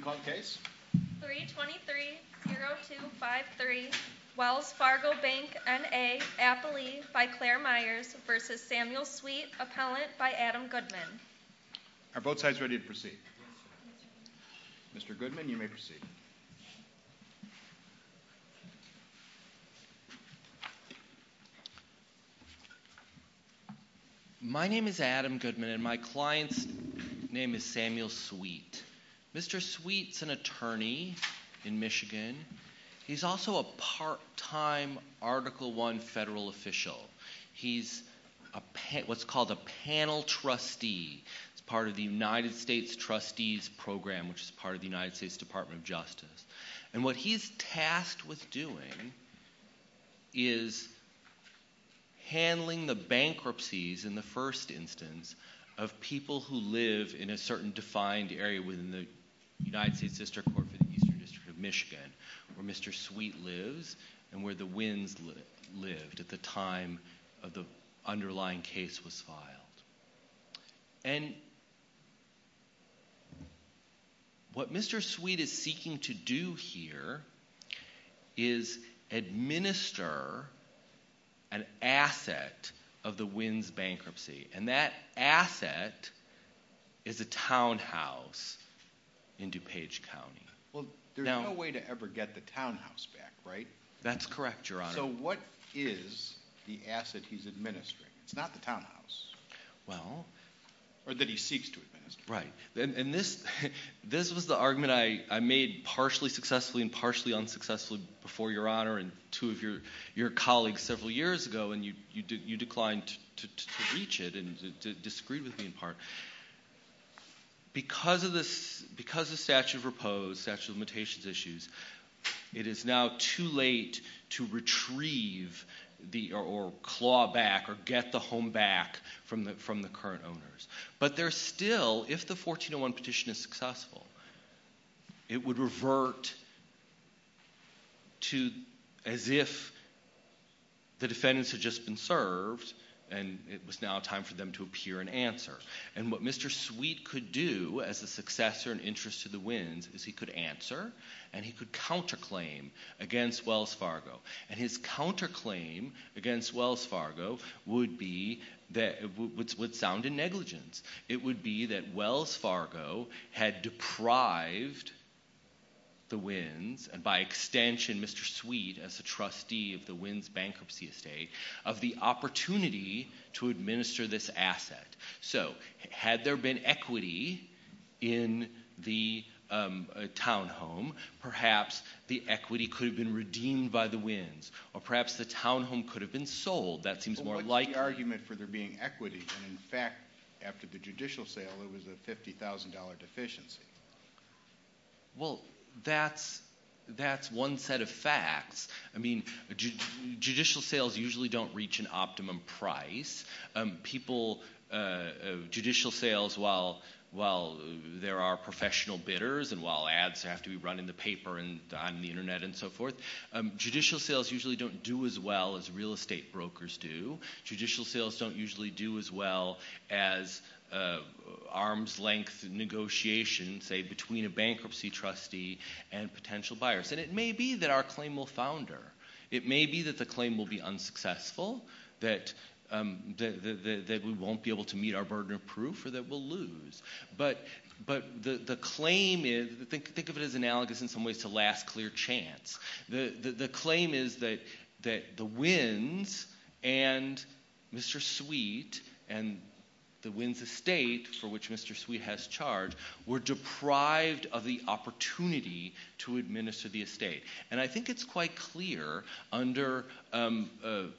323.0253 Wells Fargo Bank, N.A. by Claire Myers v. Samuel Sweet, Appellant by Adam Goodman Are both sides ready to proceed? Mr. Goodman, you may proceed. My name is Adam Goodman, and my client's name is Samuel Sweet. Mr. Sweet's an attorney in Michigan. He's also a part-time Article I federal official. He's what's called a panel trustee. It's part of the United States Trustees Program, which is part of the United States Department of Justice. And what he's tasked with doing is handling the bankruptcies, in the first instance, of people who live in a certain defined area within the United States District Court for the Eastern District of Michigan, where Mr. Sweet lives and where the Wins lived at the time of the underlying case was filed. And what Mr. Sweet is seeking to do here is administer an asset of the Wins bankruptcy, and that asset is a townhouse in DuPage County. Well, there's no way to ever get the townhouse back, right? That's correct, Your Honor. So what is the asset he's administering? It's not the townhouse. Or that he seeks to administer. Right. And this was the argument I made partially successfully and partially unsuccessfully before, Your Honor, and two of your colleagues several years ago, and you declined to reach it and disagreed with me in part. Because of statute of repose, statute of limitations issues, it is now too late to retrieve or claw back or get the home back from the current owners. But there's still, if the 1401 petition is successful, it would revert to as if the defendants had just been served and it was now time for them to appear and answer. And what Mr. Sweet could do as a successor and interest to the Wins is he could answer and he could counterclaim against Wells Fargo. And his counterclaim against Wells Fargo would sound in negligence. It would be that Wells Fargo had deprived the Wins, and by extension Mr. Sweet as a trustee of the Wins bankruptcy estate, of the opportunity to administer this asset. So, had there been equity in the townhome, perhaps the equity could have been redeemed by the Wins. Or perhaps the townhome could have been sold. That seems more likely. Why the argument for there being equity when in fact after the judicial sale it was a $50,000 deficiency? Well, that's one set of facts. I mean, judicial sales usually don't reach an optimum price. People, judicial sales, while there are professional bidders and while ads have to be run in the paper and on the internet and so forth, judicial sales usually don't do as well as real estate brokers do. Judicial sales don't usually do as well as arms-length negotiations, say, between a bankruptcy trustee and potential buyers. And it may be that our claim will founder. It may be that the claim will be unsuccessful, that we won't be able to meet our burden of proof, or that we'll lose. But the claim is – think of it as analogous in some ways to last clear chance. The claim is that the Wins and Mr. Sweet and the Wins estate, for which Mr. Sweet has charge, were deprived of the opportunity to administer the estate. And I think it's quite clear under the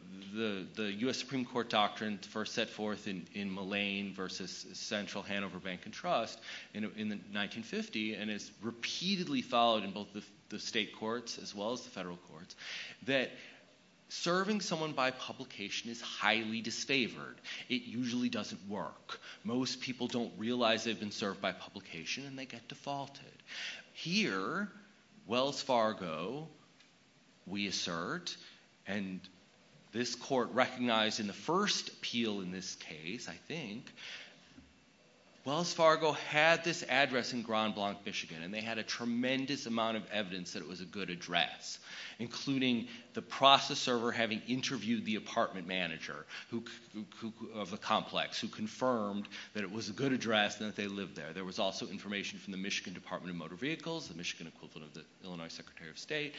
U.S. Supreme Court doctrine first set forth in Mullane v. Central Hanover Bank and Trust in 1950 and is repeatedly followed in both the state courts as well as the federal courts that serving someone by publication is highly disfavored. It usually doesn't work. Most people don't realize they've been served by publication and they get defaulted. Here, Wells Fargo, we assert, and this court recognized in the first appeal in this case, I think, Wells Fargo had this address in Grand Blanc, Michigan. And they had a tremendous amount of evidence that it was a good address, including the process server having interviewed the apartment manager of the complex who confirmed that it was a good address and that they lived there. There was also information from the Michigan Department of Motor Vehicles, the Michigan equivalent of the Illinois Secretary of State,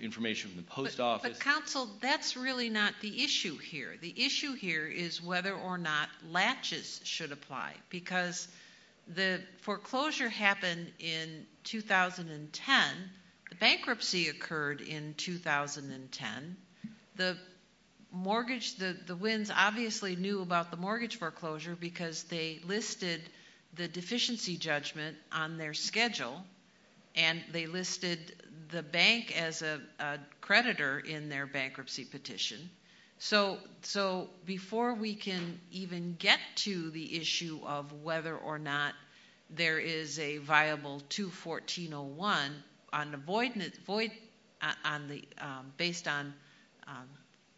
information from the post office. But, counsel, that's really not the issue here. The issue here is whether or not latches should apply because the foreclosure happened in 2010. The bankruptcy occurred in 2010. The mortgage, the Wins obviously knew about the mortgage foreclosure because they listed the deficiency judgment on their schedule and they listed the bank as a creditor in their bankruptcy petition. So before we can even get to the issue of whether or not there is a viable 214.01, based on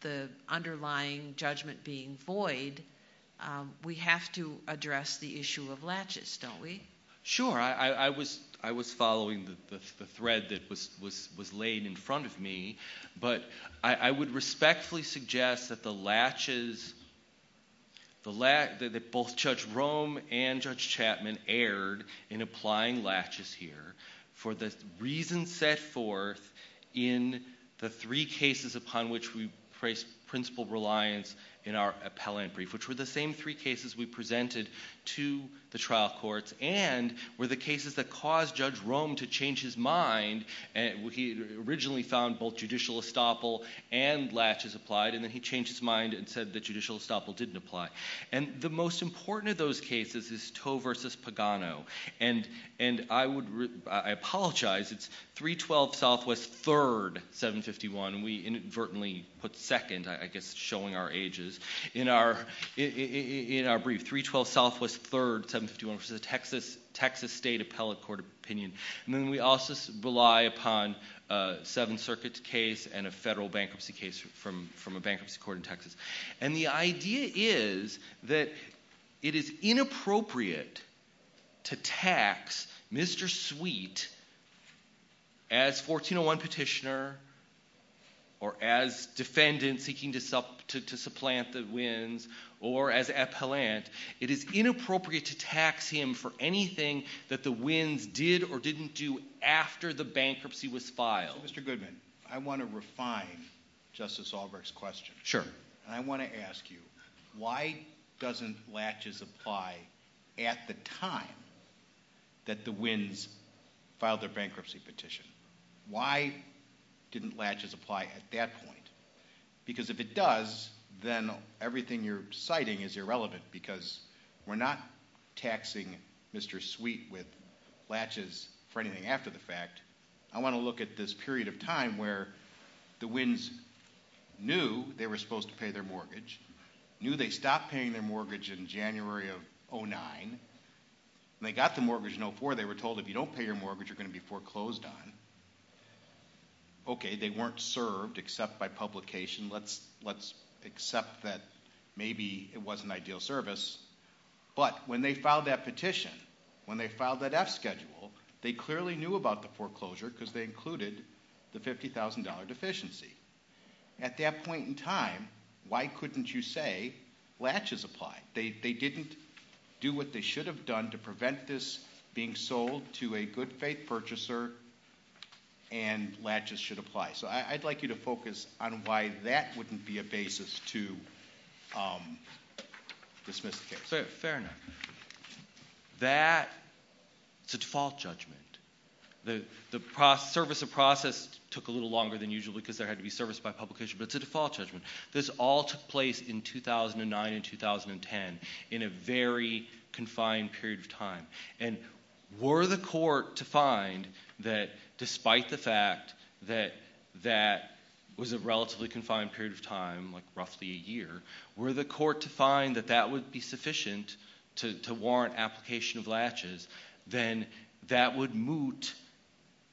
the underlying judgment being void, we have to address the issue of latches, don't we? Sure. I was following the thread that was laid in front of me. But I would respectfully suggest that the latches, that both Judge Rome and Judge Chapman erred in applying latches here for the reasons set forth in the three cases upon which we placed principal reliance in our appellant brief, which were the same three cases we presented to the trial courts and were the cases that caused Judge Rome to change his mind. He originally found both judicial estoppel and latches applied and then he changed his mind and said that judicial estoppel didn't apply. And the most important of those cases is Toe v. Pagano. And I apologize, it's 312 Southwest 3rd, 751. We inadvertently put second, I guess showing our ages, in our brief. 312 Southwest 3rd, 751 v. Texas State Appellate Court of Opinion. And then we also rely upon a Seventh Circuit case and a federal bankruptcy case from a bankruptcy court in Texas. And the idea is that it is inappropriate to tax Mr. Sweet as 1401 petitioner or as defendant seeking to supplant the wins or as appellant. It is inappropriate to tax him for anything that the wins did or didn't do after the bankruptcy was filed. So, Mr. Goodman, I want to refine Justice Albrecht's question. Sure. And I want to ask you, why doesn't latches apply at the time that the wins filed their bankruptcy petition? Why didn't latches apply at that point? Because if it does, then everything you're citing is irrelevant because we're not taxing Mr. Sweet with latches for anything after the fact. I want to look at this period of time where the wins knew they were supposed to pay their mortgage, knew they stopped paying their mortgage in January of 2009. When they got the mortgage in 2004, they were told if you don't pay your mortgage, you're going to be foreclosed on. Okay, they weren't served except by publication. Let's accept that maybe it wasn't ideal service. But when they filed that petition, when they filed that F schedule, they clearly knew about the foreclosure because they included the $50,000 deficiency. At that point in time, why couldn't you say latches apply? They didn't do what they should have done to prevent this being sold to a good faith purchaser, and latches should apply. So I'd like you to focus on why that wouldn't be a basis to dismiss the case. Fair enough. That is a default judgment. The service of process took a little longer than usual because there had to be service by publication, but it's a default judgment. This all took place in 2009 and 2010 in a very confined period of time. And were the court to find that despite the fact that that was a relatively confined period of time, like roughly a year, were the court to find that that would be sufficient to warrant application of latches, then that would moot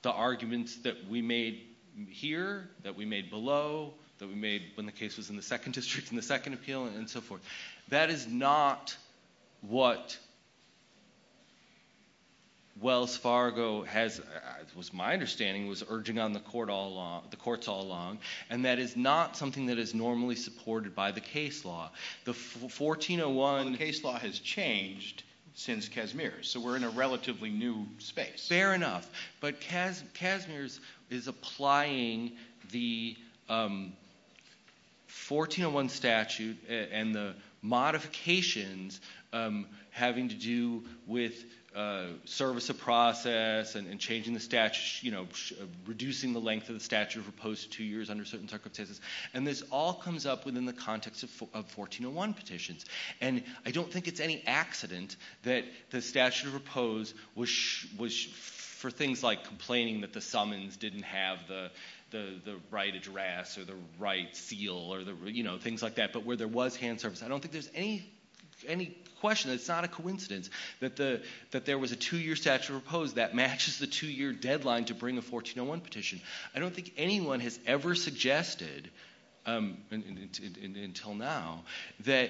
the arguments that we made here, that we made below, that we made when the case was in the second district, in the second appeal, and so forth. That is not what Wells Fargo has, it was my understanding, was urging on the courts all along. And that is not something that is normally supported by the case law. Well, the case law has changed since Casimir's, so we're in a relatively new space. Fair enough. But Casimir's is applying the 1401 statute and the modifications having to do with service of process and changing the statute, reducing the length of the statute as opposed to two years under certain circumstances. And this all comes up within the context of 1401 petitions. And I don't think it's any accident that the statute of repose was for things like complaining that the summons didn't have the right address or the right seal or things like that, but where there was hand service. I don't think there's any question that it's not a coincidence that there was a two-year statute of repose that matches the two-year deadline to bring a 1401 petition. I don't think anyone has ever suggested, until now, that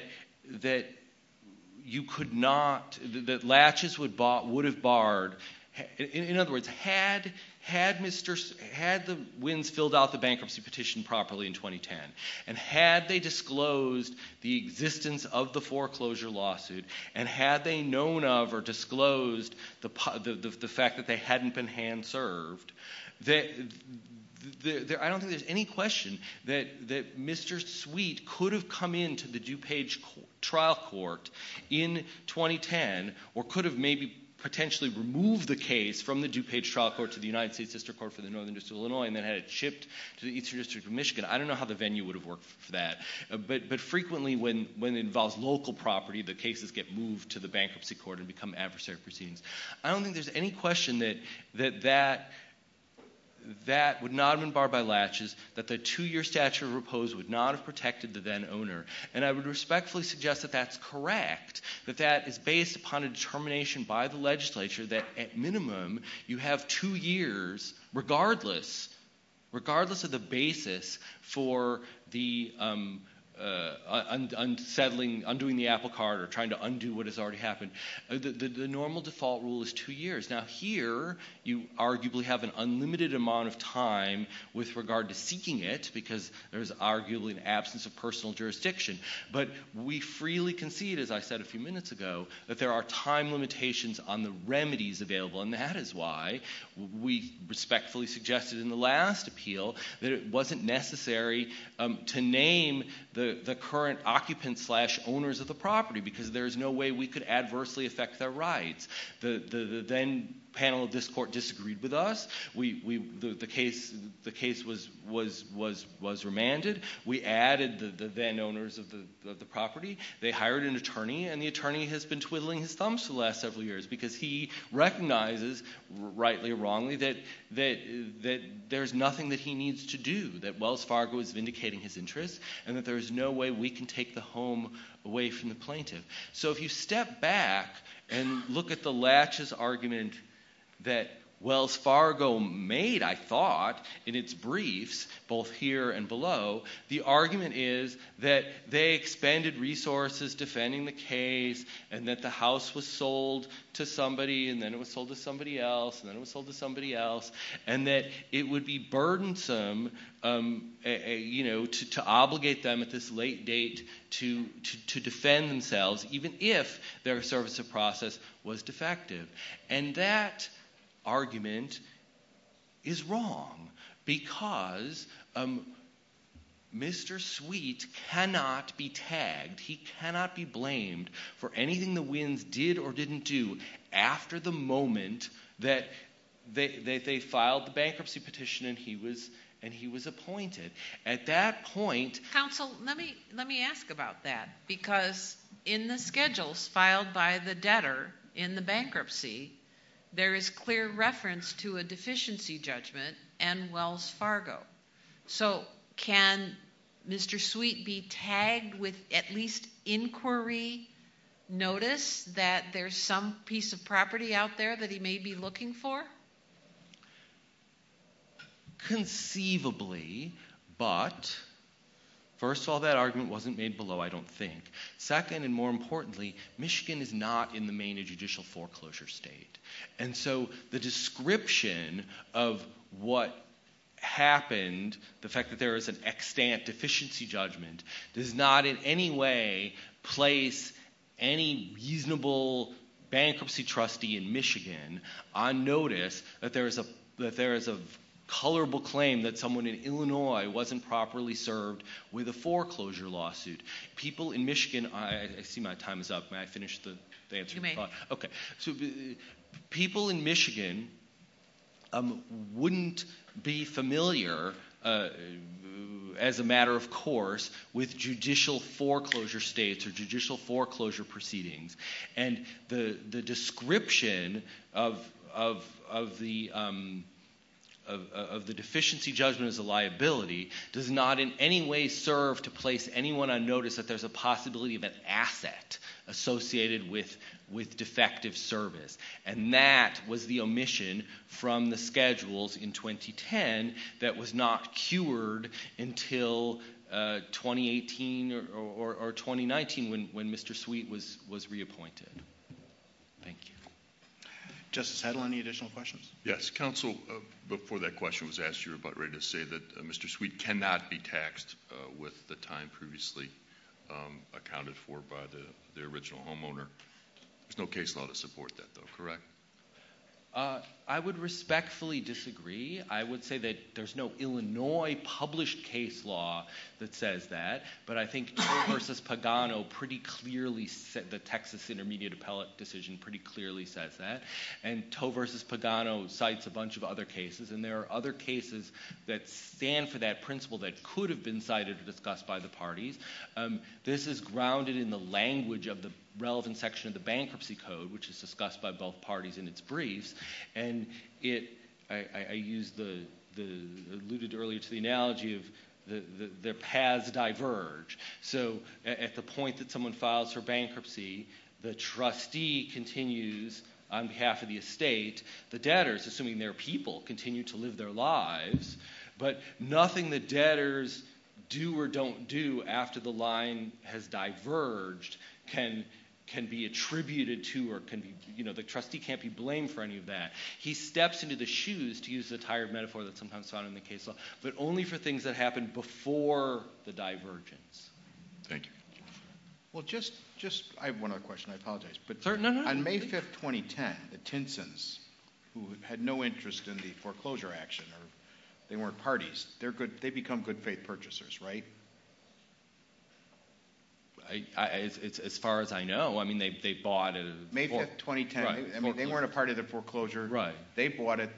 you could not, that latches would have barred. In other words, had the Wins filled out the bankruptcy petition properly in 2010, and had they disclosed the existence of the foreclosure lawsuit, and had they known of or disclosed the fact that they hadn't been hand served, I don't think there's any question that Mr. Sweet could have come into the DuPage trial court in 2010, or could have maybe potentially removed the case from the DuPage trial court to the United States District Court for the Northern District of Illinois, and then had it shipped to the Eastern District of Michigan. I don't know how the venue would have worked for that. But frequently, when it involves local property, the cases get moved to the bankruptcy court and become adversary proceedings. I don't think there's any question that that would not have been barred by latches, that the two-year statute of repose would not have protected the then owner. And I would respectfully suggest that that's correct, that that is based upon a determination by the legislature that, at minimum, you have two years regardless of the basis for the unsettling, undoing the apple cart, or trying to undo what has already happened. The normal default rule is two years. Now, here you arguably have an unlimited amount of time with regard to seeking it, because there is arguably an absence of personal jurisdiction. But we freely concede, as I said a few minutes ago, that there are time limitations on the remedies available. And that is why we respectfully suggested in the last appeal that it wasn't necessary to name the current occupants slash owners of the property, because there is no way we could adversely affect their rights. The then panel of this court disagreed with us. The case was remanded. We added the then owners of the property. They hired an attorney, and the attorney has been twiddling his thumbs for the last several years because he recognizes, rightly or wrongly, that there is nothing that he needs to do, that Wells Fargo is vindicating his interests, and that there is no way we can take the home away from the plaintiff. So if you step back and look at the laches argument that Wells Fargo made, I thought, in its briefs, both here and below, the argument is that they expended resources defending the case and that the house was sold to somebody, and then it was sold to somebody else, and then it was sold to somebody else, and that it would be burdensome to obligate them at this late date to defend themselves, even if their service of process was defective. And that argument is wrong because Mr. Sweet cannot be tagged, he cannot be blamed for anything the Wins did or didn't do after the moment that they filed the bankruptcy petition and he was appointed. Counsel, let me ask about that, because in the schedules filed by the debtor in the bankruptcy, there is clear reference to a deficiency judgment and Wells Fargo. So can Mr. Sweet be tagged with at least inquiry notice that there's some piece of property out there that he may be looking for? Conceivably, but, first of all, that argument wasn't made below, I don't think. Second, and more importantly, Michigan is not in the main judicial foreclosure state. And so the description of what happened, the fact that there is an extant deficiency judgment, does not in any way place any reasonable bankruptcy trustee in Michigan on notice that there is a colorable claim that someone in Illinois wasn't properly served with a foreclosure lawsuit. People in Michigan, I see my time is up, may I finish the answer? You may. People in Michigan wouldn't be familiar, as a matter of course, with judicial foreclosure states or judicial foreclosure proceedings. And the description of the deficiency judgment as a liability does not in any way serve to place anyone on notice that there's a possibility of an asset associated with defective service. And that was the omission from the schedules in 2010 that was not cured until 2018 or 2019 when Mr. Sweet was reappointed. Thank you. Justice Hedl, any additional questions? Yes. Counsel, before that question was asked, you were about ready to say that Mr. Sweet cannot be taxed with the time previously accounted for by the original homeowner. There's no case law to support that, though, correct? I would respectfully disagree. I would say that there's no Illinois published case law that says that. But I think Toe v. Pagano pretty clearly said the Texas intermediate appellate decision pretty clearly says that. And Toe v. Pagano cites a bunch of other cases. And there are other cases that stand for that principle that could have been cited or discussed by the parties. This is grounded in the language of the relevant section of the bankruptcy code, which is discussed by both parties in its briefs. And I alluded earlier to the analogy of their paths diverge. So at the point that someone files for bankruptcy, the trustee continues on behalf of the estate. The debtors, assuming they're people, continue to live their lives. But nothing the debtors do or don't do after the line has diverged can be attributed to or can be – the trustee can't be blamed for any of that. He steps into the shoes, to use the tired metaphor that's sometimes found in the case law, but only for things that happened before the divergence. Thank you. Well, just – I have one other question. I apologize. No, no, no. On May 5th, 2010, the Tinsons, who had no interest in the foreclosure action or they weren't parties, they become good-faith purchasers, right? As far as I know, I mean they bought a – They bought it.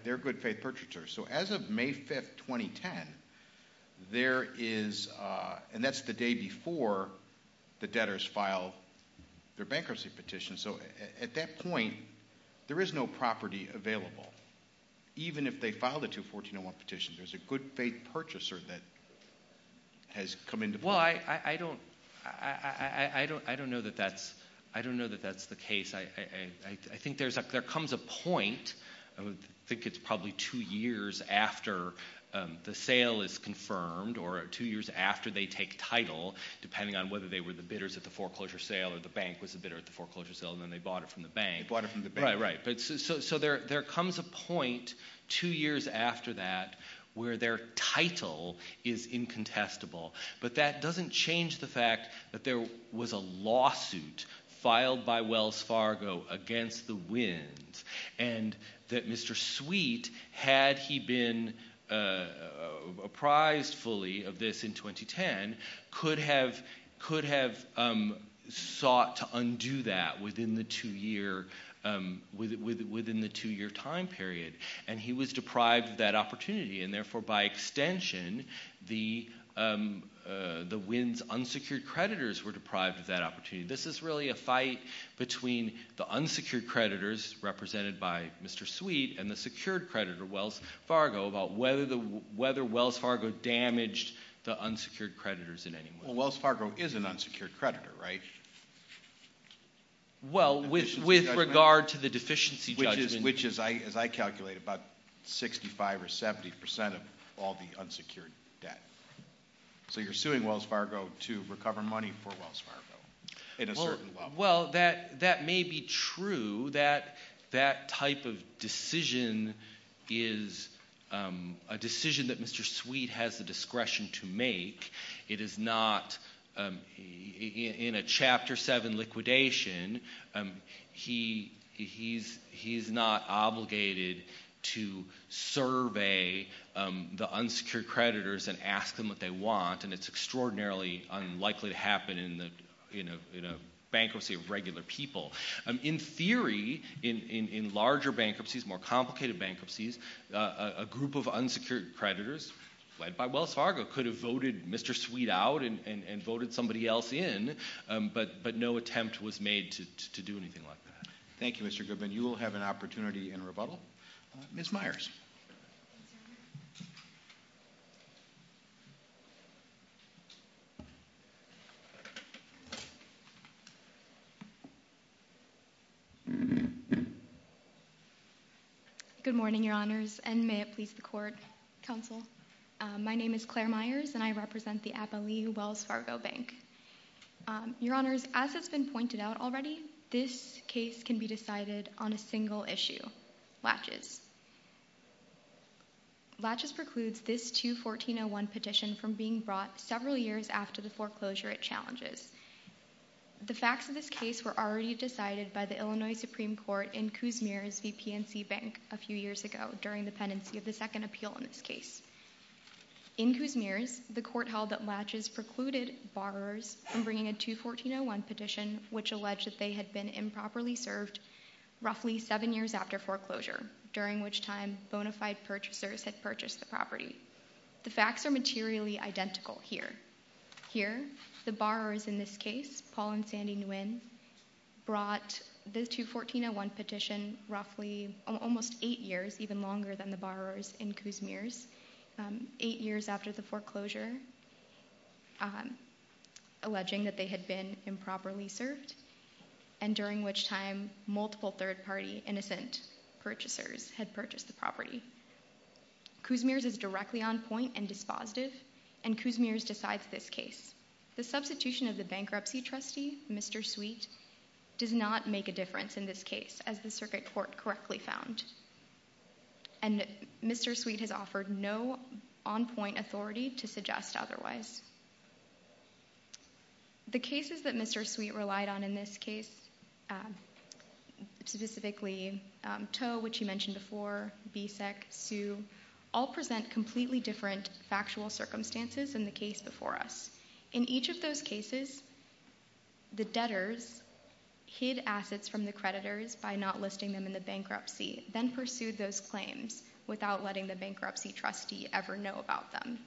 They're good-faith purchasers. So as of May 5th, 2010, there is – and that's the day before the debtors filed their bankruptcy petition. So at that point, there is no property available. Even if they filed a 214-01 petition, there's a good-faith purchaser that has come into play. Well, I don't know that that's the case. I think there comes a point – I think it's probably two years after the sale is confirmed or two years after they take title, depending on whether they were the bidders at the foreclosure sale or the bank was the bidder at the foreclosure sale, and then they bought it from the bank. They bought it from the bank. Right, right. So there comes a point two years after that where their title is incontestable. But that doesn't change the fact that there was a lawsuit filed by Wells Fargo against the winds and that Mr. Sweet, had he been apprised fully of this in 2010, could have sought to undo that within the two-year time period. And he was deprived of that opportunity, and therefore, by extension, the winds' unsecured creditors were deprived of that opportunity. This is really a fight between the unsecured creditors represented by Mr. Sweet and the secured creditor, Wells Fargo, about whether Wells Fargo damaged the unsecured creditors in any way. Well, Wells Fargo is an unsecured creditor, right? Well, with regard to the deficiency judgment. Which is, as I calculate, about 65% or 70% of all the unsecured debt. So you're suing Wells Fargo to recover money for Wells Fargo in a certain level. Well, that may be true. That type of decision is a decision that Mr. Sweet has the discretion to make. It is not, in a Chapter 7 liquidation, he's not obligated to survey the unsecured creditors and ask them what they want. And it's extraordinarily unlikely to happen in a bankruptcy of regular people. In theory, in larger bankruptcies, more complicated bankruptcies, a group of unsecured creditors led by Wells Fargo could have voted Mr. Sweet out and voted somebody else in. But no attempt was made to do anything like that. Thank you, Mr. Goodman. Ms. Myers. Good morning, Your Honors, and may it please the Court, Counsel. My name is Claire Myers, and I represent the Abilene Wells Fargo Bank. Your Honors, as has been pointed out already, this case can be decided on a single issue, Latches. Latches precludes this 2-1401 petition from being brought several years after the foreclosure it challenges. The facts of this case were already decided by the Illinois Supreme Court in Kuzmir's VPNC Bank a few years ago during the pendency of the second appeal in this case. In Kuzmir's, the court held that Latches precluded borrowers from bringing a 2-1401 petition which alleged that they had been improperly served roughly seven years after foreclosure, during which time bona fide purchasers had purchased the property. The facts are materially identical here. Here, the borrowers in this case, Paul and Sandy Nguyen, brought the 2-1401 petition roughly almost eight years, even longer than the borrowers in Kuzmir's, eight years after the foreclosure, alleging that they had been improperly served, and during which time multiple third-party innocent purchasers had purchased the property. Kuzmir's is directly on point and dispositive, and Kuzmir's decides this case. The substitution of the bankruptcy trustee, Mr. Sweet, does not make a difference in this case, as the circuit court correctly found. And Mr. Sweet has offered no on-point authority to suggest otherwise. The cases that Mr. Sweet relied on in this case, specifically Toe, which he mentioned before, Bicek, Sue, all present completely different factual circumstances than the case before us. In each of those cases, the debtors hid assets from the creditors by not listing them in the bankruptcy, then pursued those claims without letting the bankruptcy trustee ever know about them.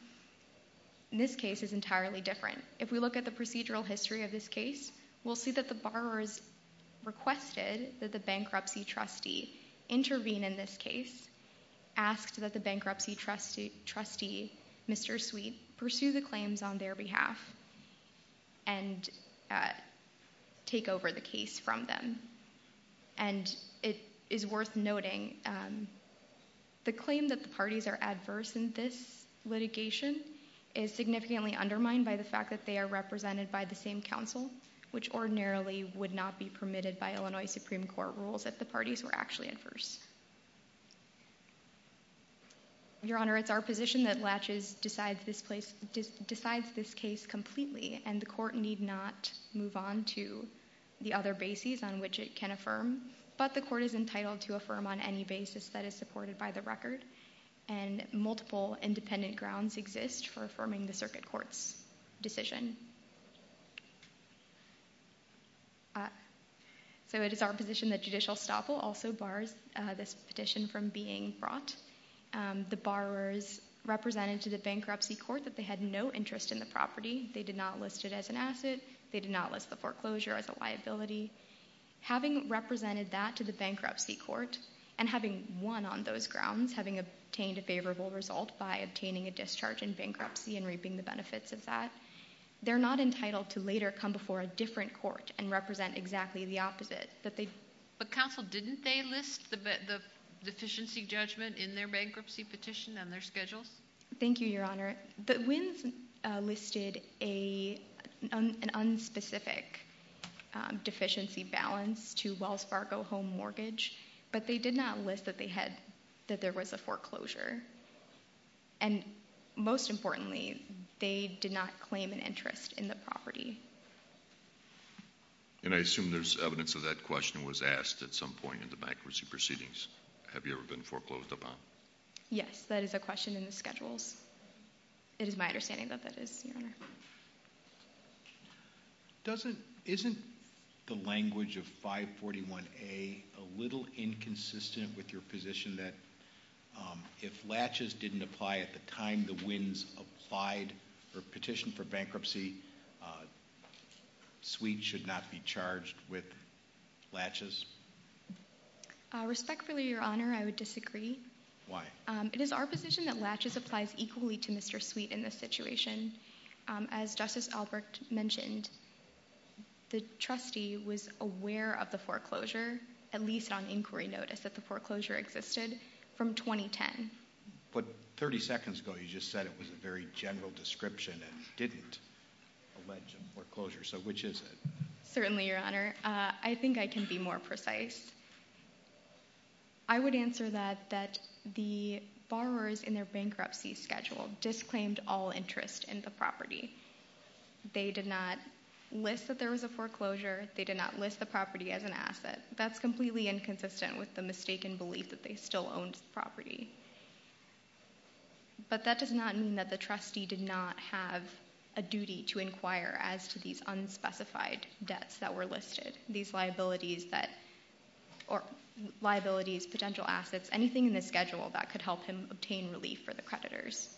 This case is entirely different. If we look at the procedural history of this case, we'll see that the borrowers requested that the bankruptcy trustee intervene in this case, asked that the bankruptcy trustee, Mr. Sweet, pursue the claims on their behalf, and take over the case from them. And it is worth noting, the claim that the parties are adverse in this litigation is significantly undermined by the fact that they are represented by the same counsel, which ordinarily would not be permitted by Illinois Supreme Court rules if the parties were actually adverse. Your Honor, it's our position that Latches decides this case completely, and the court need not move on to the other bases on which it can affirm. But the court is entitled to affirm on any basis that is supported by the record, and multiple independent grounds exist for affirming the circuit court's decision. So it is our position that judicial estoppel also bars this petition from being brought. The borrowers represented to the bankruptcy court that they had no interest in the property. They did not list it as an asset. They did not list the foreclosure as a liability. Having represented that to the bankruptcy court, and having won on those grounds, having obtained a favorable result by obtaining a discharge in bankruptcy and reaping the benefits of that, they're not entitled to later come before a different court and represent exactly the opposite. But counsel, didn't they list the deficiency judgment in their bankruptcy petition on their schedules? Thank you, Your Honor. The Wins listed an unspecific deficiency balance to Wells Fargo home mortgage, but they did not list that there was a foreclosure. And most importantly, they did not claim an interest in the property. And I assume there's evidence of that question was asked at some point in the bankruptcy proceedings. Have you ever been foreclosed upon? Yes, that is a question in the schedules. It is my understanding that that is, Your Honor. Isn't the language of 541A a little inconsistent with your position that if latches didn't apply at the time the Wins applied for a petition for bankruptcy, suites should not be charged with latches? Respectfully, Your Honor, I would disagree. Why? It is our position that latches applies equally to Mr. Suite in this situation. As Justice Albrecht mentioned, the trustee was aware of the foreclosure, at least on inquiry notice, that the foreclosure existed from 2010. But 30 seconds ago you just said it was a very general description and didn't allege a foreclosure. So which is it? Certainly, Your Honor. I think I can be more precise. I would answer that the borrowers in their bankruptcy schedule disclaimed all interest in the property. They did not list that there was a foreclosure. They did not list the property as an asset. That's completely inconsistent with the mistaken belief that they still owned the property. But that does not mean that the trustee did not have a duty to inquire as to these unspecified debts that were listed, these liabilities, potential assets, anything in the schedule that could help him obtain relief for the creditors.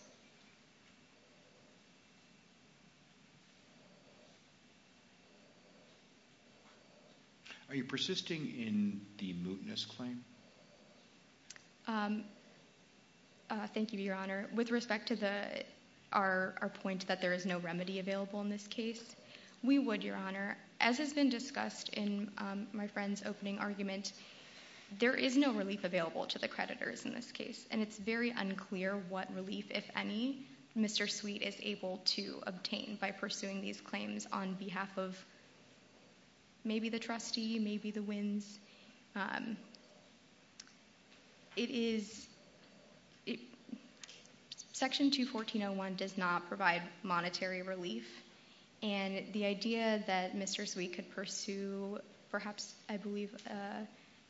Are you persisting in the mootness claim? Thank you, Your Honor. With respect to our point that there is no remedy available in this case, we would, Your Honor. As has been discussed in my friend's opening argument, there is no relief available to the creditors in this case. And it's very unclear what relief, if any, Mr. Sweet is able to obtain by pursuing these claims on behalf of maybe the trustee, maybe the Wins. Section 214.01 does not provide monetary relief. And the idea that Mr. Sweet could pursue perhaps, I believe,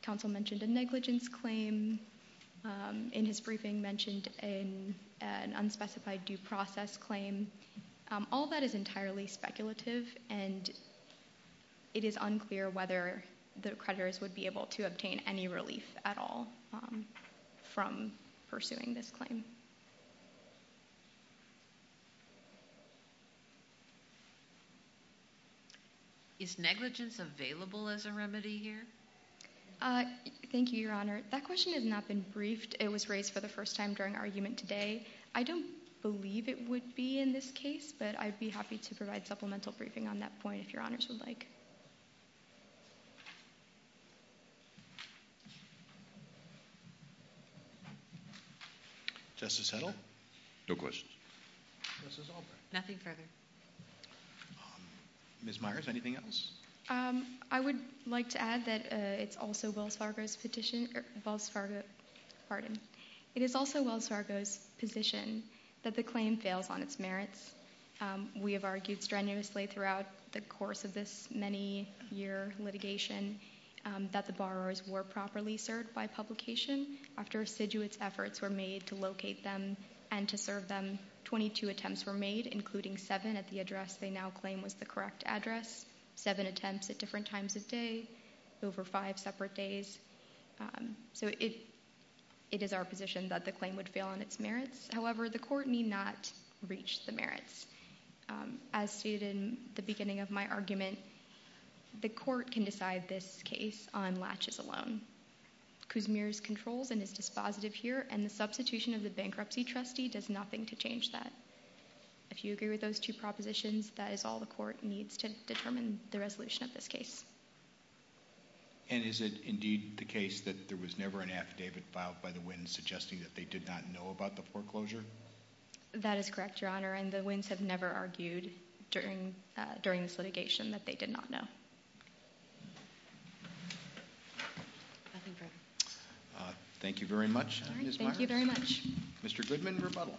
counsel mentioned a negligence claim, in his briefing mentioned an unspecified due process claim. All that is entirely speculative, and it is unclear whether the creditors would be able to obtain any relief at all from pursuing this claim. Is negligence available as a remedy here? Thank you, Your Honor. That question has not been briefed. It was raised for the first time during our argument today. I don't believe it would be in this case, but I'd be happy to provide supplemental briefing on that point if Your Honors would like. Justice Hedl? No questions. Justice Albright? Nothing further. Ms. Myers, anything else? I would like to add that it's also Wells Fargo's position that the claim fails on its merits. We have argued strenuously throughout the course of this many-year litigation that the borrowers were properly served by publication. After assiduous efforts were made to locate them and to serve them, 22 attempts were made, including seven at the address they now claim was the correct address, seven attempts at different times of day, over five separate days. So it is our position that the claim would fail on its merits. However, the court need not reach the merits. As stated in the beginning of my argument, the court can decide this case on latches alone. Kuzmir's controls and is dispositive here, and the substitution of the bankruptcy trustee does nothing to change that. If you agree with those two propositions, that is all the court needs to determine the resolution of this case. And is it indeed the case that there was never an affidavit filed by the Wins suggesting that they did not know about the foreclosure? That is correct, Your Honor, and the Wins have never argued during this litigation that they did not know. Thank you very much, Ms. Myers. Thank you very much. Mr. Goodman, rebuttal.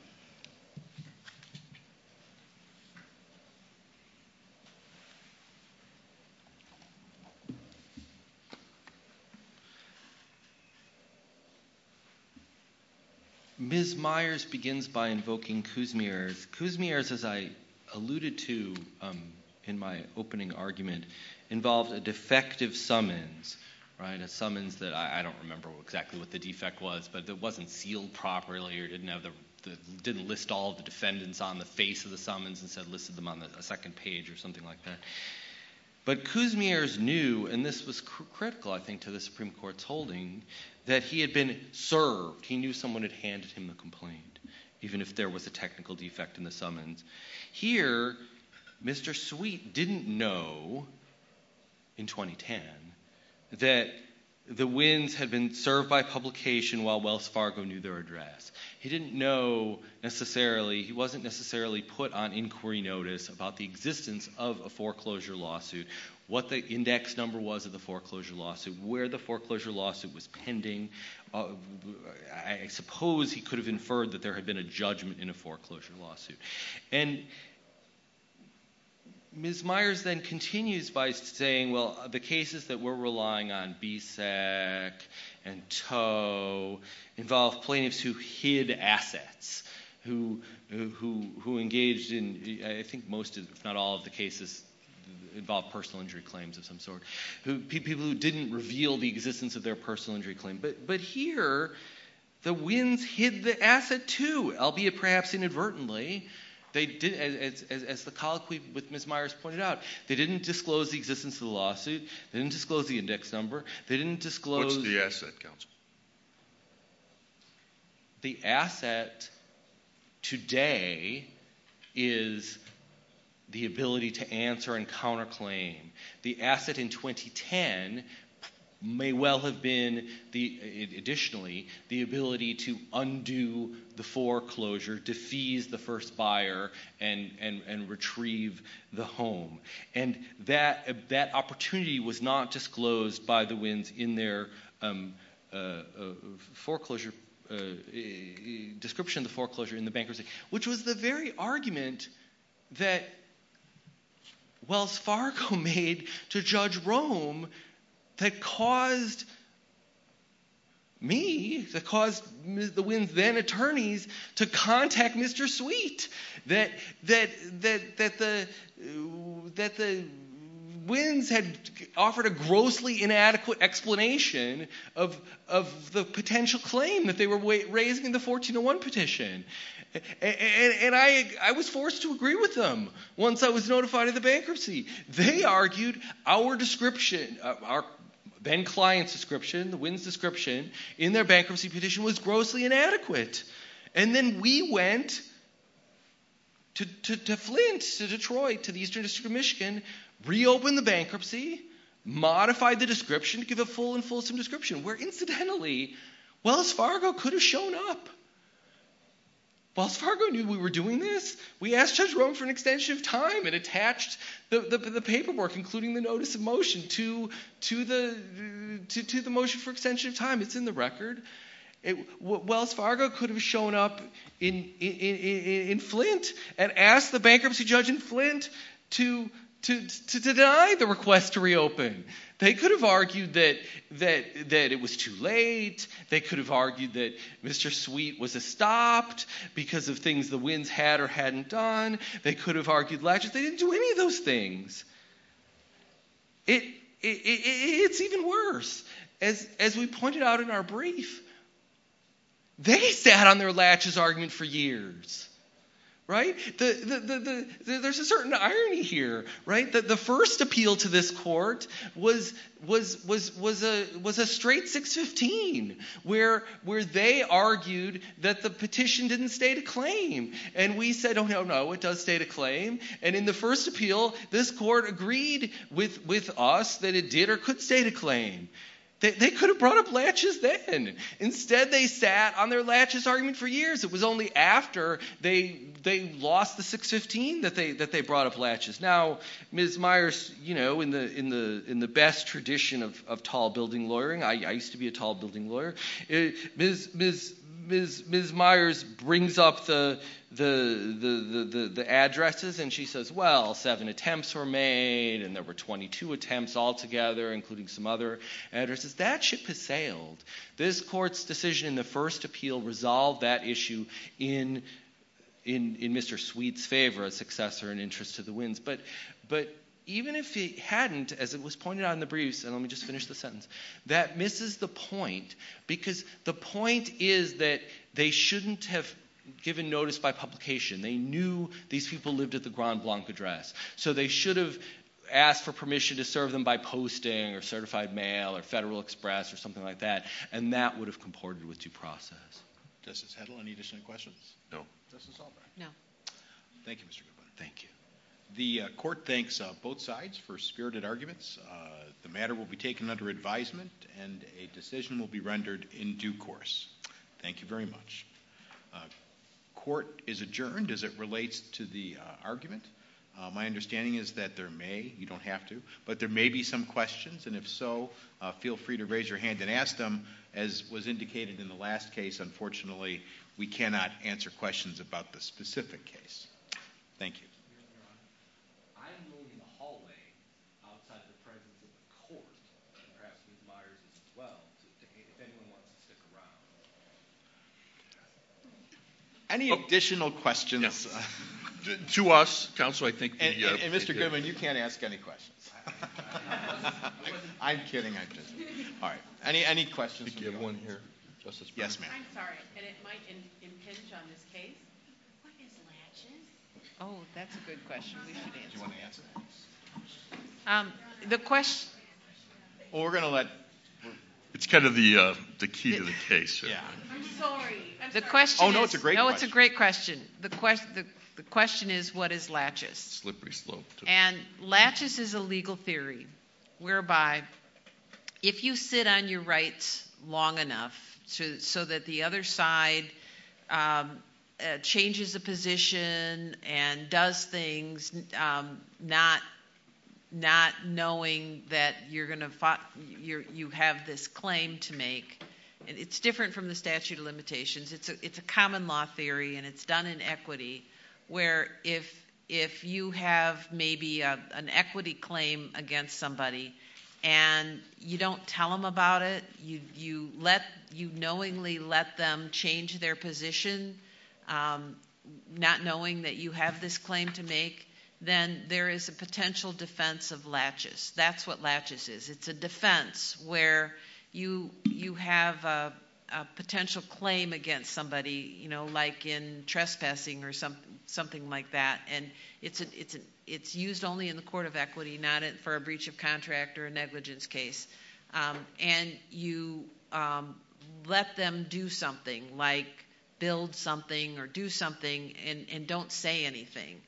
Ms. Myers begins by invoking Kuzmir's. Kuzmir's, as I alluded to in my opening argument, involved a defective summons, a summons that I don't remember exactly what the defect was, but it wasn't sealed properly or didn't list all of the defendants on the face of the summons. Instead, it listed them on a second page or something like that. But Kuzmir's knew, and this was critical, I think, to the Supreme Court's holding, that he had been served. He knew someone had handed him the complaint, even if there was a technical defect in the summons. Here, Mr. Sweet didn't know in 2010 that the Wins had been served by publication while Wells Fargo knew their address. He didn't know necessarily – he wasn't necessarily put on inquiry notice about the existence of a foreclosure lawsuit, what the index number was of the foreclosure lawsuit, where the foreclosure lawsuit was pending. I suppose he could have inferred that there had been a judgment in a foreclosure lawsuit. And Ms. Myers then continues by saying, well, the cases that we're relying on, BSEC and Toe, involve plaintiffs who hid assets, who engaged in – I think most, if not all, of the cases involve personal injury claims of some sort. People who didn't reveal the existence of their personal injury claim. But here, the Wins hid the asset, too, albeit perhaps inadvertently. As the colloquy with Ms. Myers pointed out, they didn't disclose the existence of the lawsuit. They didn't disclose the index number. What's the asset, counsel? The asset today is the ability to answer and counterclaim. The asset in 2010 may well have been, additionally, the ability to undo the foreclosure, defease the first buyer, and retrieve the home. And that opportunity was not disclosed by the Wins in their foreclosure – description of the foreclosure in the bankruptcy. Which was the very argument that Wells Fargo made to Judge Rome that caused me, that caused the Wins' then-attorneys, to contact Mr. Sweet. That the Wins had offered a grossly inadequate explanation of the potential claim that they were raising in the 1401 petition. And I was forced to agree with them once I was notified of the bankruptcy. They argued our description, Ben Kline's description, the Wins' description, in their bankruptcy petition was grossly inadequate. And then we went to Flint, to Detroit, to the Eastern District of Michigan, reopened the bankruptcy, modified the description to give a full and fulsome description. Where, incidentally, Wells Fargo could have shown up. Wells Fargo knew we were doing this. We asked Judge Rome for an extension of time and attached the paperwork, including the notice of motion, to the motion for extension of time. It's in the record. Wells Fargo could have shown up in Flint and asked the bankruptcy judge in Flint to deny the request to reopen. They could have argued that it was too late. They could have argued that Mr. Sweet was stopped because of things the Wins had or hadn't done. They could have argued – they didn't do any of those things. It's even worse. As we pointed out in our brief, they sat on their latches argument for years. There's a certain irony here. The first appeal to this court was a straight 6-15, where they argued that the petition didn't state a claim. And we said, oh no, no, it does state a claim. And in the first appeal, this court agreed with us that it did or could state a claim. They could have brought up latches then. Instead, they sat on their latches argument for years. It was only after they lost the 6-15 that they brought up latches. Now, Ms. Myers, in the best tradition of tall building lawyering – I used to be a tall building lawyer – Ms. Myers brings up the addresses and she says, well, seven attempts were made and there were 22 attempts altogether, including some other addresses. That ship has sailed. This court's decision in the first appeal resolved that issue in Mr. Sweet's favor, a successor in interest to the Wins. But even if it hadn't, as it was pointed out in the briefs – and let me just finish the sentence – that misses the point because the point is that they shouldn't have given notice by publication. They knew these people lived at the Grand Blanc address. So they should have asked for permission to serve them by posting or certified mail or Federal Express or something like that, and that would have comported with due process. Justice Hedl, any additional questions? No. Thank you, Mr. Goodwin. Thank you. The court thanks both sides for spirited arguments. The matter will be taken under advisement and a decision will be rendered in due course. Thank you very much. Court is adjourned as it relates to the argument. My understanding is that there may – you don't have to – but there may be some questions, and if so, feel free to raise your hand and ask them. As was indicated in the last case, unfortunately, we cannot answer questions about the specific case. Thank you. I'm moving the hallway outside the presence of the court, and perhaps Ms. Myers as well, if anyone wants to stick around. Any additional questions? To us, counsel, I think the – And, Mr. Goodwin, you can't ask any questions. I'm kidding. All right. Any questions? Yes, ma'am. I'm sorry, and it might impinge on this case. What is latches? Oh, that's a good question. Do you want to answer that? The question – Well, we're going to let – It's kind of the key to the case. Yeah. I'm sorry. Oh, no, it's a great question. The question is, what is latches? Slippery slope. And latches is a legal theory whereby if you sit on your rights long enough so that the other side changes a position and does things not knowing that you're going to – you have this claim to make. It's different from the statute of limitations. It's a common law theory, and it's done in equity where if you have maybe an equity claim against somebody and you don't tell them about it, you knowingly let them change their position not knowing that you have this claim to make, then there is a potential defense of latches. That's what latches is. It's a defense where you have a potential claim against somebody, you know, like in trespassing or something like that, and it's used only in the court of equity, not for a breach of contract or a negligence case, and you let them do something like build something or do something and don't say anything,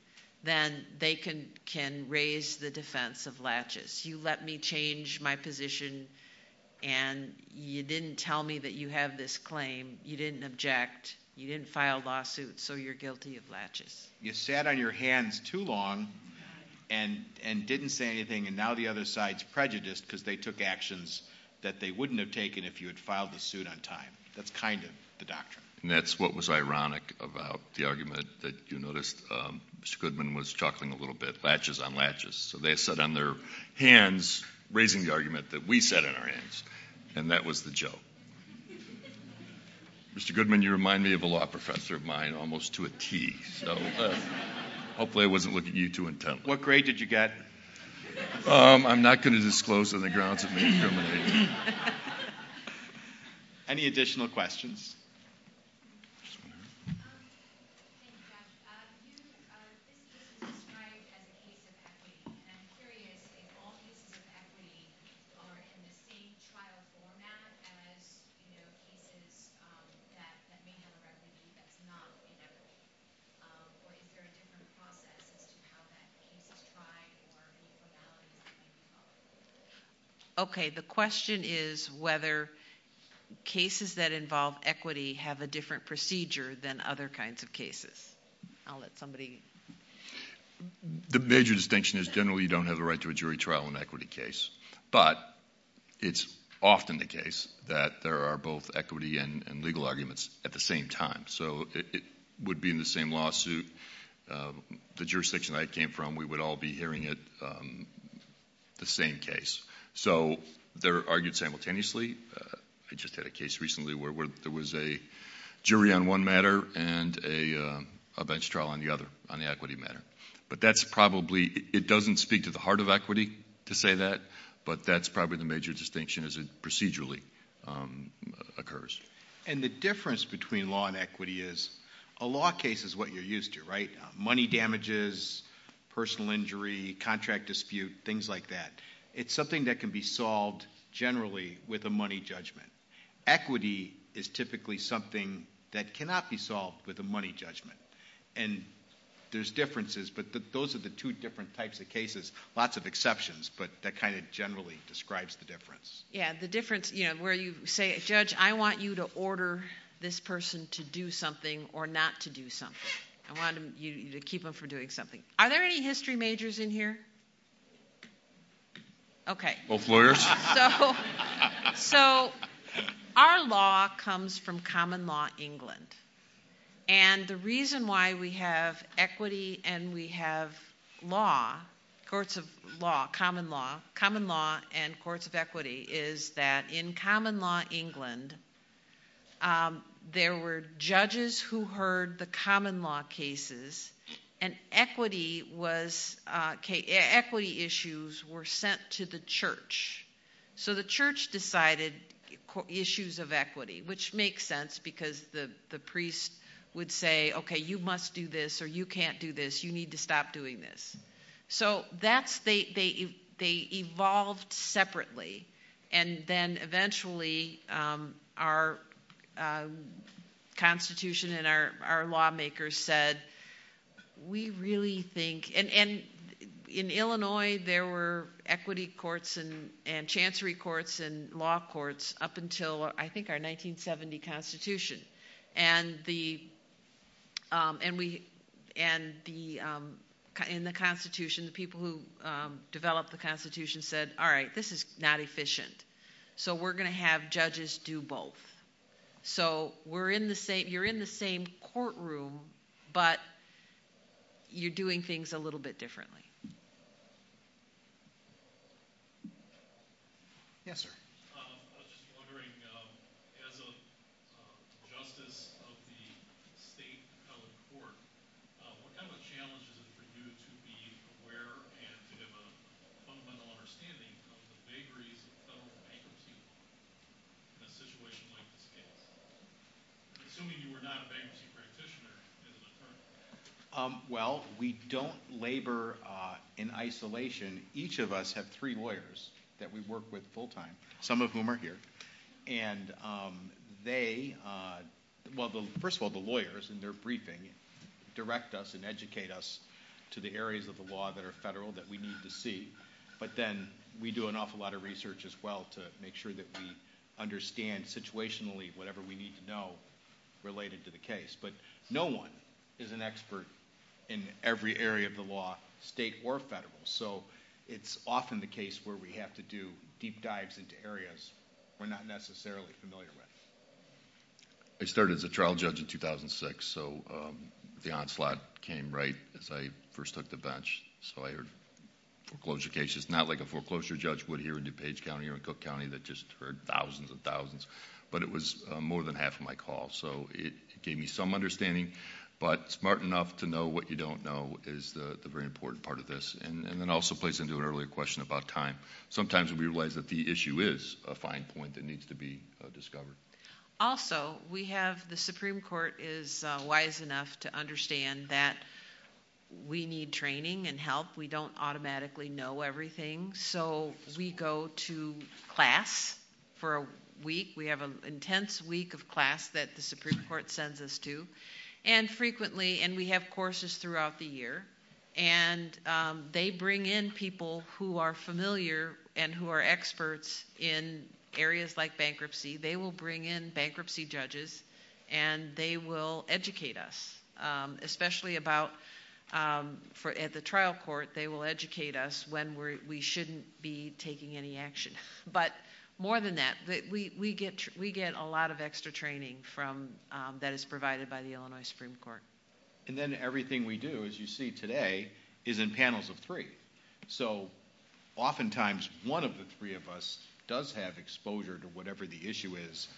then they can raise the defense of latches. You let me change my position, and you didn't tell me that you have this claim. You didn't object. You didn't file lawsuits, so you're guilty of latches. You sat on your hands too long and didn't say anything, and now the other side's prejudiced because they took actions that they wouldn't have taken if you had filed the suit on time. That's kind of the doctrine. And that's what was ironic about the argument that you noticed Mr. Goodman was chuckling a little bit, latches on latches. So they sat on their hands raising the argument that we sat on our hands, and that was the joke. Mr. Goodman, you remind me of a law professor of mine almost to a T. So hopefully I wasn't looking at you too intently. What grade did you get? I'm not going to disclose on the grounds of being a criminal agent. Any additional questions? Yes, ma'am. Thank you, Josh. This case is described as a case of equity, and I'm curious if all cases of equity are in the same trial format as, you know, cases that may have a refugee that's not in equity, or is there a different process as to how that case is tried or any formalities that may be followed? Okay. The question is whether cases that involve equity have a different procedure than other kinds of cases. I'll let somebody. The major distinction is generally you don't have the right to a jury trial in an equity case. But it's often the case that there are both equity and legal arguments at the same time. So it would be in the same lawsuit. The jurisdiction I came from, we would all be hearing it, the same case. So they're argued simultaneously. I just had a case recently where there was a jury on one matter and a bench trial on the other, on the equity matter. But that's probably – it doesn't speak to the heart of equity to say that, but that's probably the major distinction as it procedurally occurs. And the difference between law and equity is a law case is what you're used to, right? Money damages, personal injury, contract dispute, things like that. It's something that can be solved generally with a money judgment. Equity is typically something that cannot be solved with a money judgment. And there's differences, but those are the two different types of cases. Lots of exceptions, but that kind of generally describes the difference. Yeah, the difference where you say, Judge, I want you to order this person to do something or not to do something. I want you to keep them from doing something. Are there any history majors in here? Okay. Both lawyers. So our law comes from common law England. And the reason why we have equity and we have law, courts of law, common law, common law and courts of equity is that in common law England, there were judges who heard the common law cases, and equity was – equity issues were sent to the church. So the church decided issues of equity, which makes sense because the priest would say, okay, you must do this or you can't do this, you need to stop doing this. So that's – they evolved separately. And then eventually our constitution and our lawmakers said, we really think – and in Illinois there were equity courts and chancery courts and law courts up until I think our 1970 constitution. And the – and we – and the – in the constitution, the people who developed the constitution said, all right, this is not efficient, so we're going to have judges do both. So we're in the same – you're in the same courtroom, but you're doing things a little bit differently. Yes, sir. I was just wondering, as a justice of the state court, what kind of a challenge is it for you to be aware and to have a fundamental understanding of the vagaries of federal bankruptcy in a situation like this case? Assuming you were not a bankruptcy practitioner as an attorney. Well, we don't labor in isolation. Each of us have three lawyers that we work with full time, some of whom are here. And they – well, first of all, the lawyers in their briefing direct us and educate us to the areas of the law that are federal that we need to see. But then we do an awful lot of research as well to make sure that we understand situationally whatever we need to know related to the case. But no one is an expert in every area of the law, state or federal. So it's often the case where we have to do deep dives into areas we're not necessarily familiar with. I started as a trial judge in 2006, so the onslaught came right as I first took the bench. So I heard foreclosure cases not like a foreclosure judge would hear in DuPage County or in Cook County that just heard thousands and thousands. But it was more than half of my call, so it gave me some understanding. But smart enough to know what you don't know is the very important part of this. And it also plays into an earlier question about time. Sometimes we realize that the issue is a fine point that needs to be discovered. Also, we have the Supreme Court is wise enough to understand that we need training and help. We don't automatically know everything, so we go to class for a week. We have an intense week of class that the Supreme Court sends us to. And frequently, and we have courses throughout the year, and they bring in people who are familiar and who are experts in areas like bankruptcy. They will bring in bankruptcy judges, and they will educate us. Especially about, at the trial court, they will educate us when we shouldn't be taking any action. But more than that, we get a lot of extra training that is provided by the Illinois Supreme Court. And then everything we do, as you see today, is in panels of three. So oftentimes, one of the three of us does have exposure to whatever the issue is,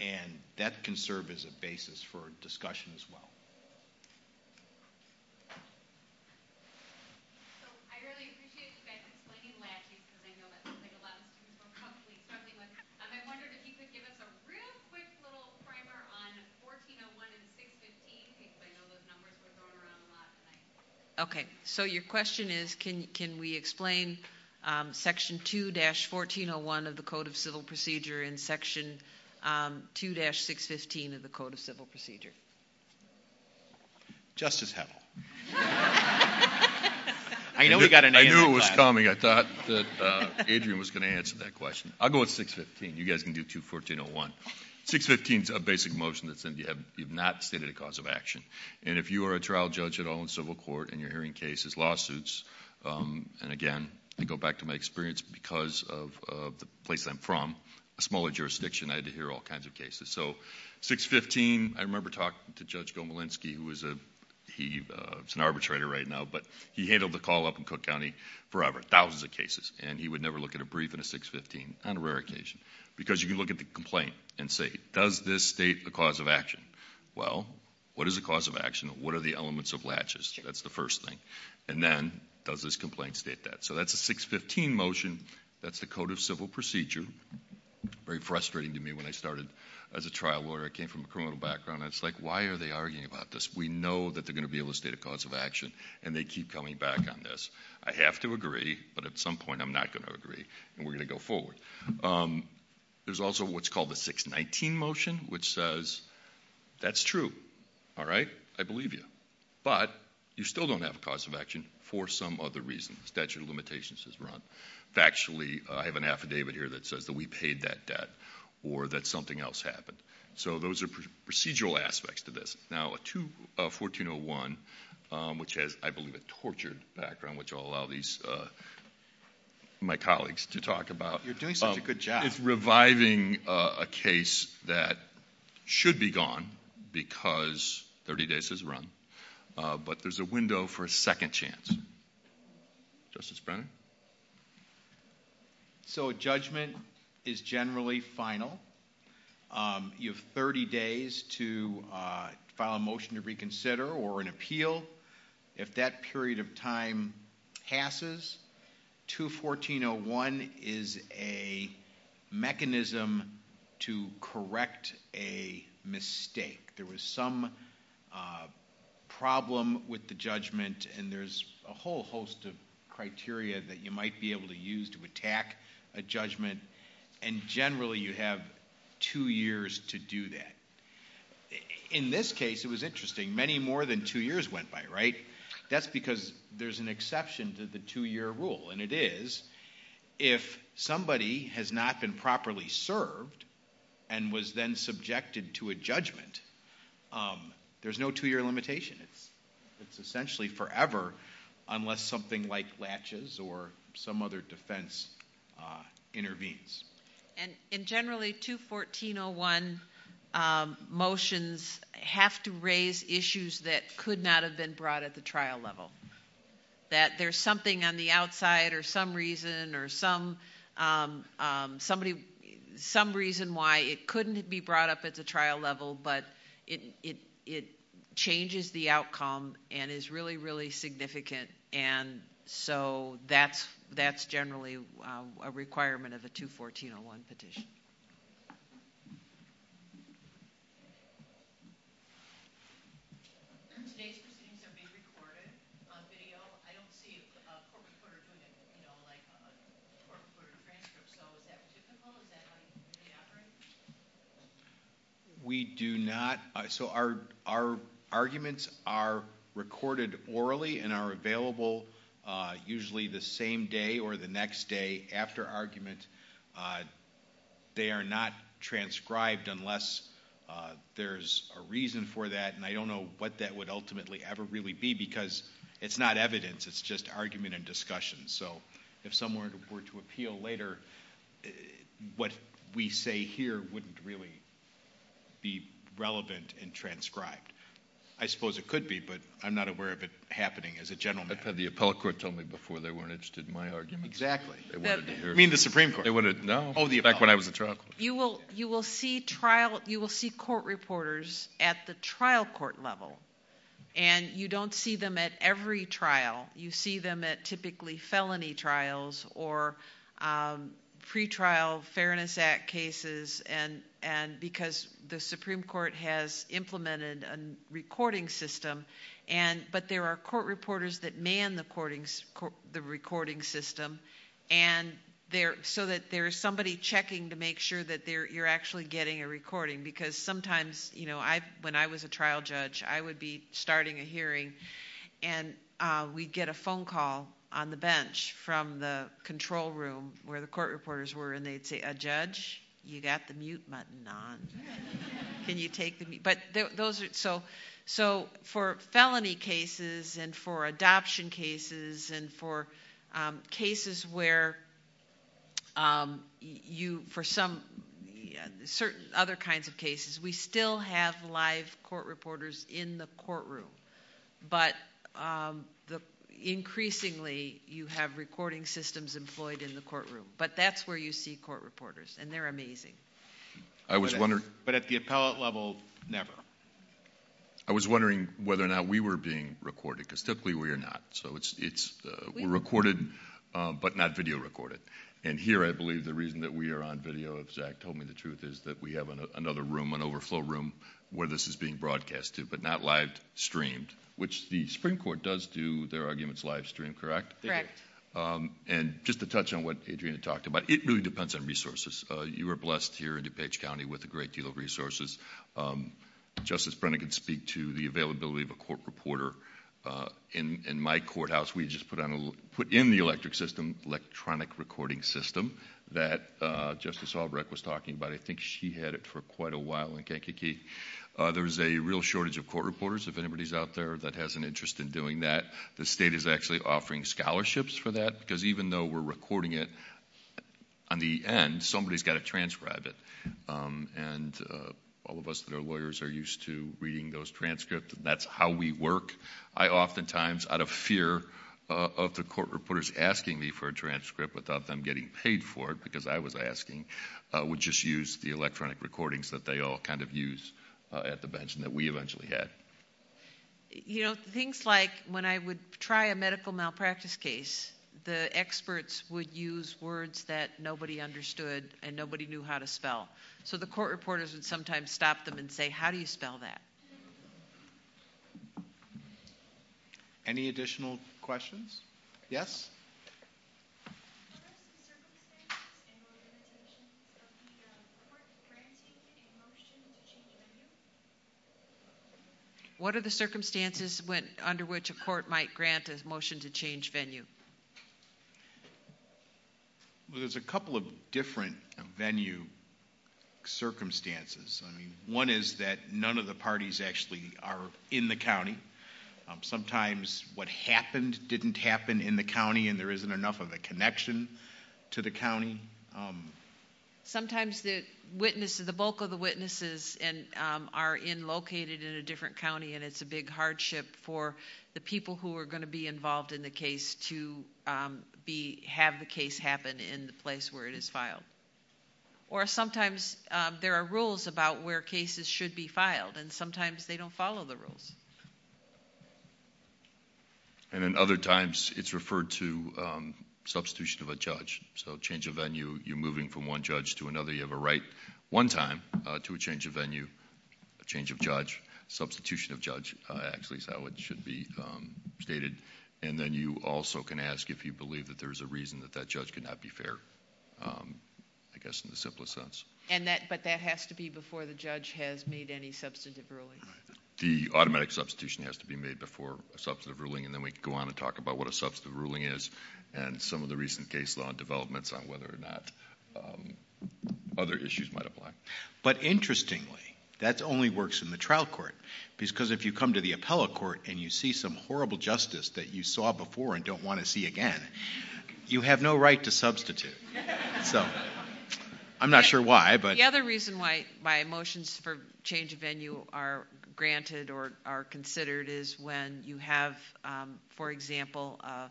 and that can serve as a basis for discussion as well. So I really appreciate you guys explaining latches, because I know that looks like a lot of students were probably struggling with. I wondered if you could give us a real quick little primer on 1401 and 615, because I know those numbers were thrown around a lot tonight. Okay, so your question is, can we explain Section 2-1401 of the Code of Civil Procedure and Section 2-615 of the Code of Civil Procedure? Justice Howell. I knew it was coming. I thought that Adrian was going to answer that question. I'll go with 615. You guys can do 214-01. 615 is a basic motion that says you have not stated a cause of action. And if you are a trial judge at all in civil court and you're hearing cases, lawsuits, and again, to go back to my experience, because of the place I'm from, a smaller jurisdiction, I had to hear all kinds of cases. So 615, I remember talking to Judge Gomelinsky, who is an arbitrator right now, but he handled the call up in Cook County forever, thousands of cases, and he would never look at a brief in a 615 on a rare occasion. Because you can look at the complaint and say, does this state a cause of action? Well, what is a cause of action? What are the elements of latches? That's the first thing. And then, does this complaint state that? So that's a 615 motion. That's the Code of Civil Procedure. Very frustrating to me when I started as a trial lawyer. I came from a criminal background. It's like, why are they arguing about this? We know that they're going to be able to state a cause of action, and they keep coming back on this. I have to agree, but at some point I'm not going to agree, and we're going to go forward. There's also what's called the 619 motion, which says that's true. All right? I believe you. But you still don't have a cause of action for some other reason. Statute of limitations is wrong. Factually, I have an affidavit here that says that we paid that debt, or that something else happened. So those are procedural aspects to this. Now, 1401, which has, I believe, a tortured background, which I'll allow my colleagues to talk about. You're doing such a good job. It's reviving a case that should be gone because 30 days has run, but there's a window for a second chance. Justice Brennan? So a judgment is generally final. You have 30 days to file a motion to reconsider or an appeal. If that period of time passes, 21401 is a mechanism to correct a mistake. There was some problem with the judgment, and there's a whole host of criteria that you might be able to use to attack a judgment. And generally you have two years to do that. In this case, it was interesting, many more than two years went by, right? That's because there's an exception to the two-year rule, and it is if somebody has not been properly served and was then subjected to a judgment, there's no two-year limitation. It's essentially forever unless something like latches or some other defense intervenes. And generally 21401 motions have to raise issues that could not have been brought at the trial level, that there's something on the outside or some reason or some reason why it couldn't be brought up at the trial level, but it changes the outcome and is really, really significant. And so that's generally a requirement of a 21401 petition. Today's proceedings are being recorded on video. I don't see a court reporter doing it, you know, like a court reporter transcript, so is that typical? Is that how you operate? We do not. So our arguments are recorded orally and are available usually the same day or the next day after argument. They are not transcribed unless there's a reason for that, and I don't know what that would ultimately ever really be because it's not evidence. It's just argument and discussion. So if someone were to appeal later, what we say here wouldn't really be relevant and transcribed. I suppose it could be, but I'm not aware of it happening as a gentleman. I've had the appellate court tell me before they weren't interested in my arguments. Exactly. You mean the Supreme Court? No, back when I was a trial court. You will see court reporters at the trial court level, and you don't see them at every trial. You see them at typically felony trials or pretrial Fairness Act cases because the Supreme Court has implemented a recording system, but there are court reporters that man the recording system so that there is somebody checking to make sure that you're actually getting a recording because sometimes when I was a trial judge, I would be starting a hearing, and we'd get a phone call on the bench from the control room where the court reporters were, and they'd say, a judge, you got the mute button on. Can you take the mute? So for felony cases and for adoption cases and for cases where you for some certain other kinds of cases, we still have live court reporters in the courtroom, but increasingly you have recording systems employed in the courtroom, but that's where you see court reporters, and they're amazing. But at the appellate level, never. I was wondering whether or not we were being recorded because typically we are not. So we're recorded but not video recorded, and here I believe the reason that we are on video, if Jack told me the truth, is that we have another room, an overflow room where this is being broadcast to, but not live streamed, which the Supreme Court does do their arguments live streamed, correct? Correct. And just to touch on what Adriana talked about, it really depends on resources. You are blessed here in DuPage County with a great deal of resources. Justice Brennan can speak to the availability of a court reporter. In my courthouse, we just put in the electronic recording system that Justice Albrecht was talking about. I think she had it for quite a while in Kankakee. There's a real shortage of court reporters, if anybody's out there that has an interest in doing that. The state is actually offering scholarships for that because even though we're recording it, on the end, somebody's got to transcribe it, and all of us that are lawyers are used to reading those transcripts, and that's how we work. I oftentimes, out of fear of the court reporters asking me for a transcript without them getting paid for it, because I was asking, would just use the electronic recordings that they all kind of use at the bench and that we eventually had. You know, things like when I would try a medical malpractice case, the experts would use words that nobody understood and nobody knew how to spell. So the court reporters would sometimes stop them and say, how do you spell that? Any additional questions? Yes? What are the circumstances and limitations of the court granting a motion to change venue? What are the circumstances under which a court might grant a motion to change venue? Well, there's a couple of different venue circumstances. One is that none of the parties actually are in the county. Sometimes what happened didn't happen in the county, and there isn't enough of a connection to the county. Sometimes the witness, the bulk of the witnesses are located in a different county, and it's a big hardship for the people who are going to be involved in the case to have the case happen in the place where it is filed. Or sometimes there are rules about where cases should be filed, and sometimes they don't follow the rules. And then other times it's referred to substitution of a judge. So change of venue, you're moving from one judge to another. You have a right one time to a change of venue, a change of judge, substitution of judge actually is how it should be stated. And then you also can ask if you believe that there's a reason that that judge could not be fair, I guess in the simplest sense. But that has to be before the judge has made any substantive ruling. The automatic substitution has to be made before a substantive ruling, and then we can go on and talk about what a substantive ruling is. And some of the recent case law developments on whether or not other issues might apply. But interestingly, that only works in the trial court. Because if you come to the appellate court and you see some horrible justice that you saw before and don't want to see again, you have no right to substitute. So I'm not sure why, but- The other reason why motions for change of venue are granted or are considered is when you have, for example, a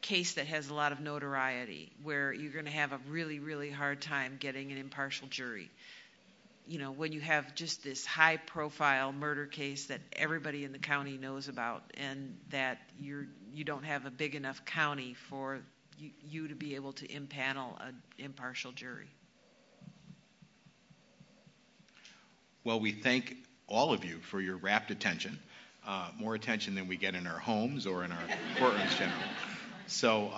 case that has a lot of notoriety. Where you're going to have a really, really hard time getting an impartial jury. When you have just this high profile murder case that everybody in the county knows about and that you don't have a big enough county for you to be able to impanel an impartial jury. Well, we thank all of you for your rapt attention. More attention than we get in our homes or in our courtrooms generally.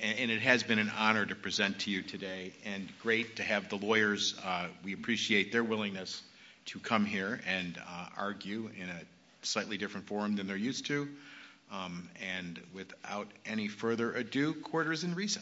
And it has been an honor to present to you today. And great to have the lawyers. We appreciate their willingness to come here and argue in a slightly different forum than they're used to. And without any further ado, court is in recess.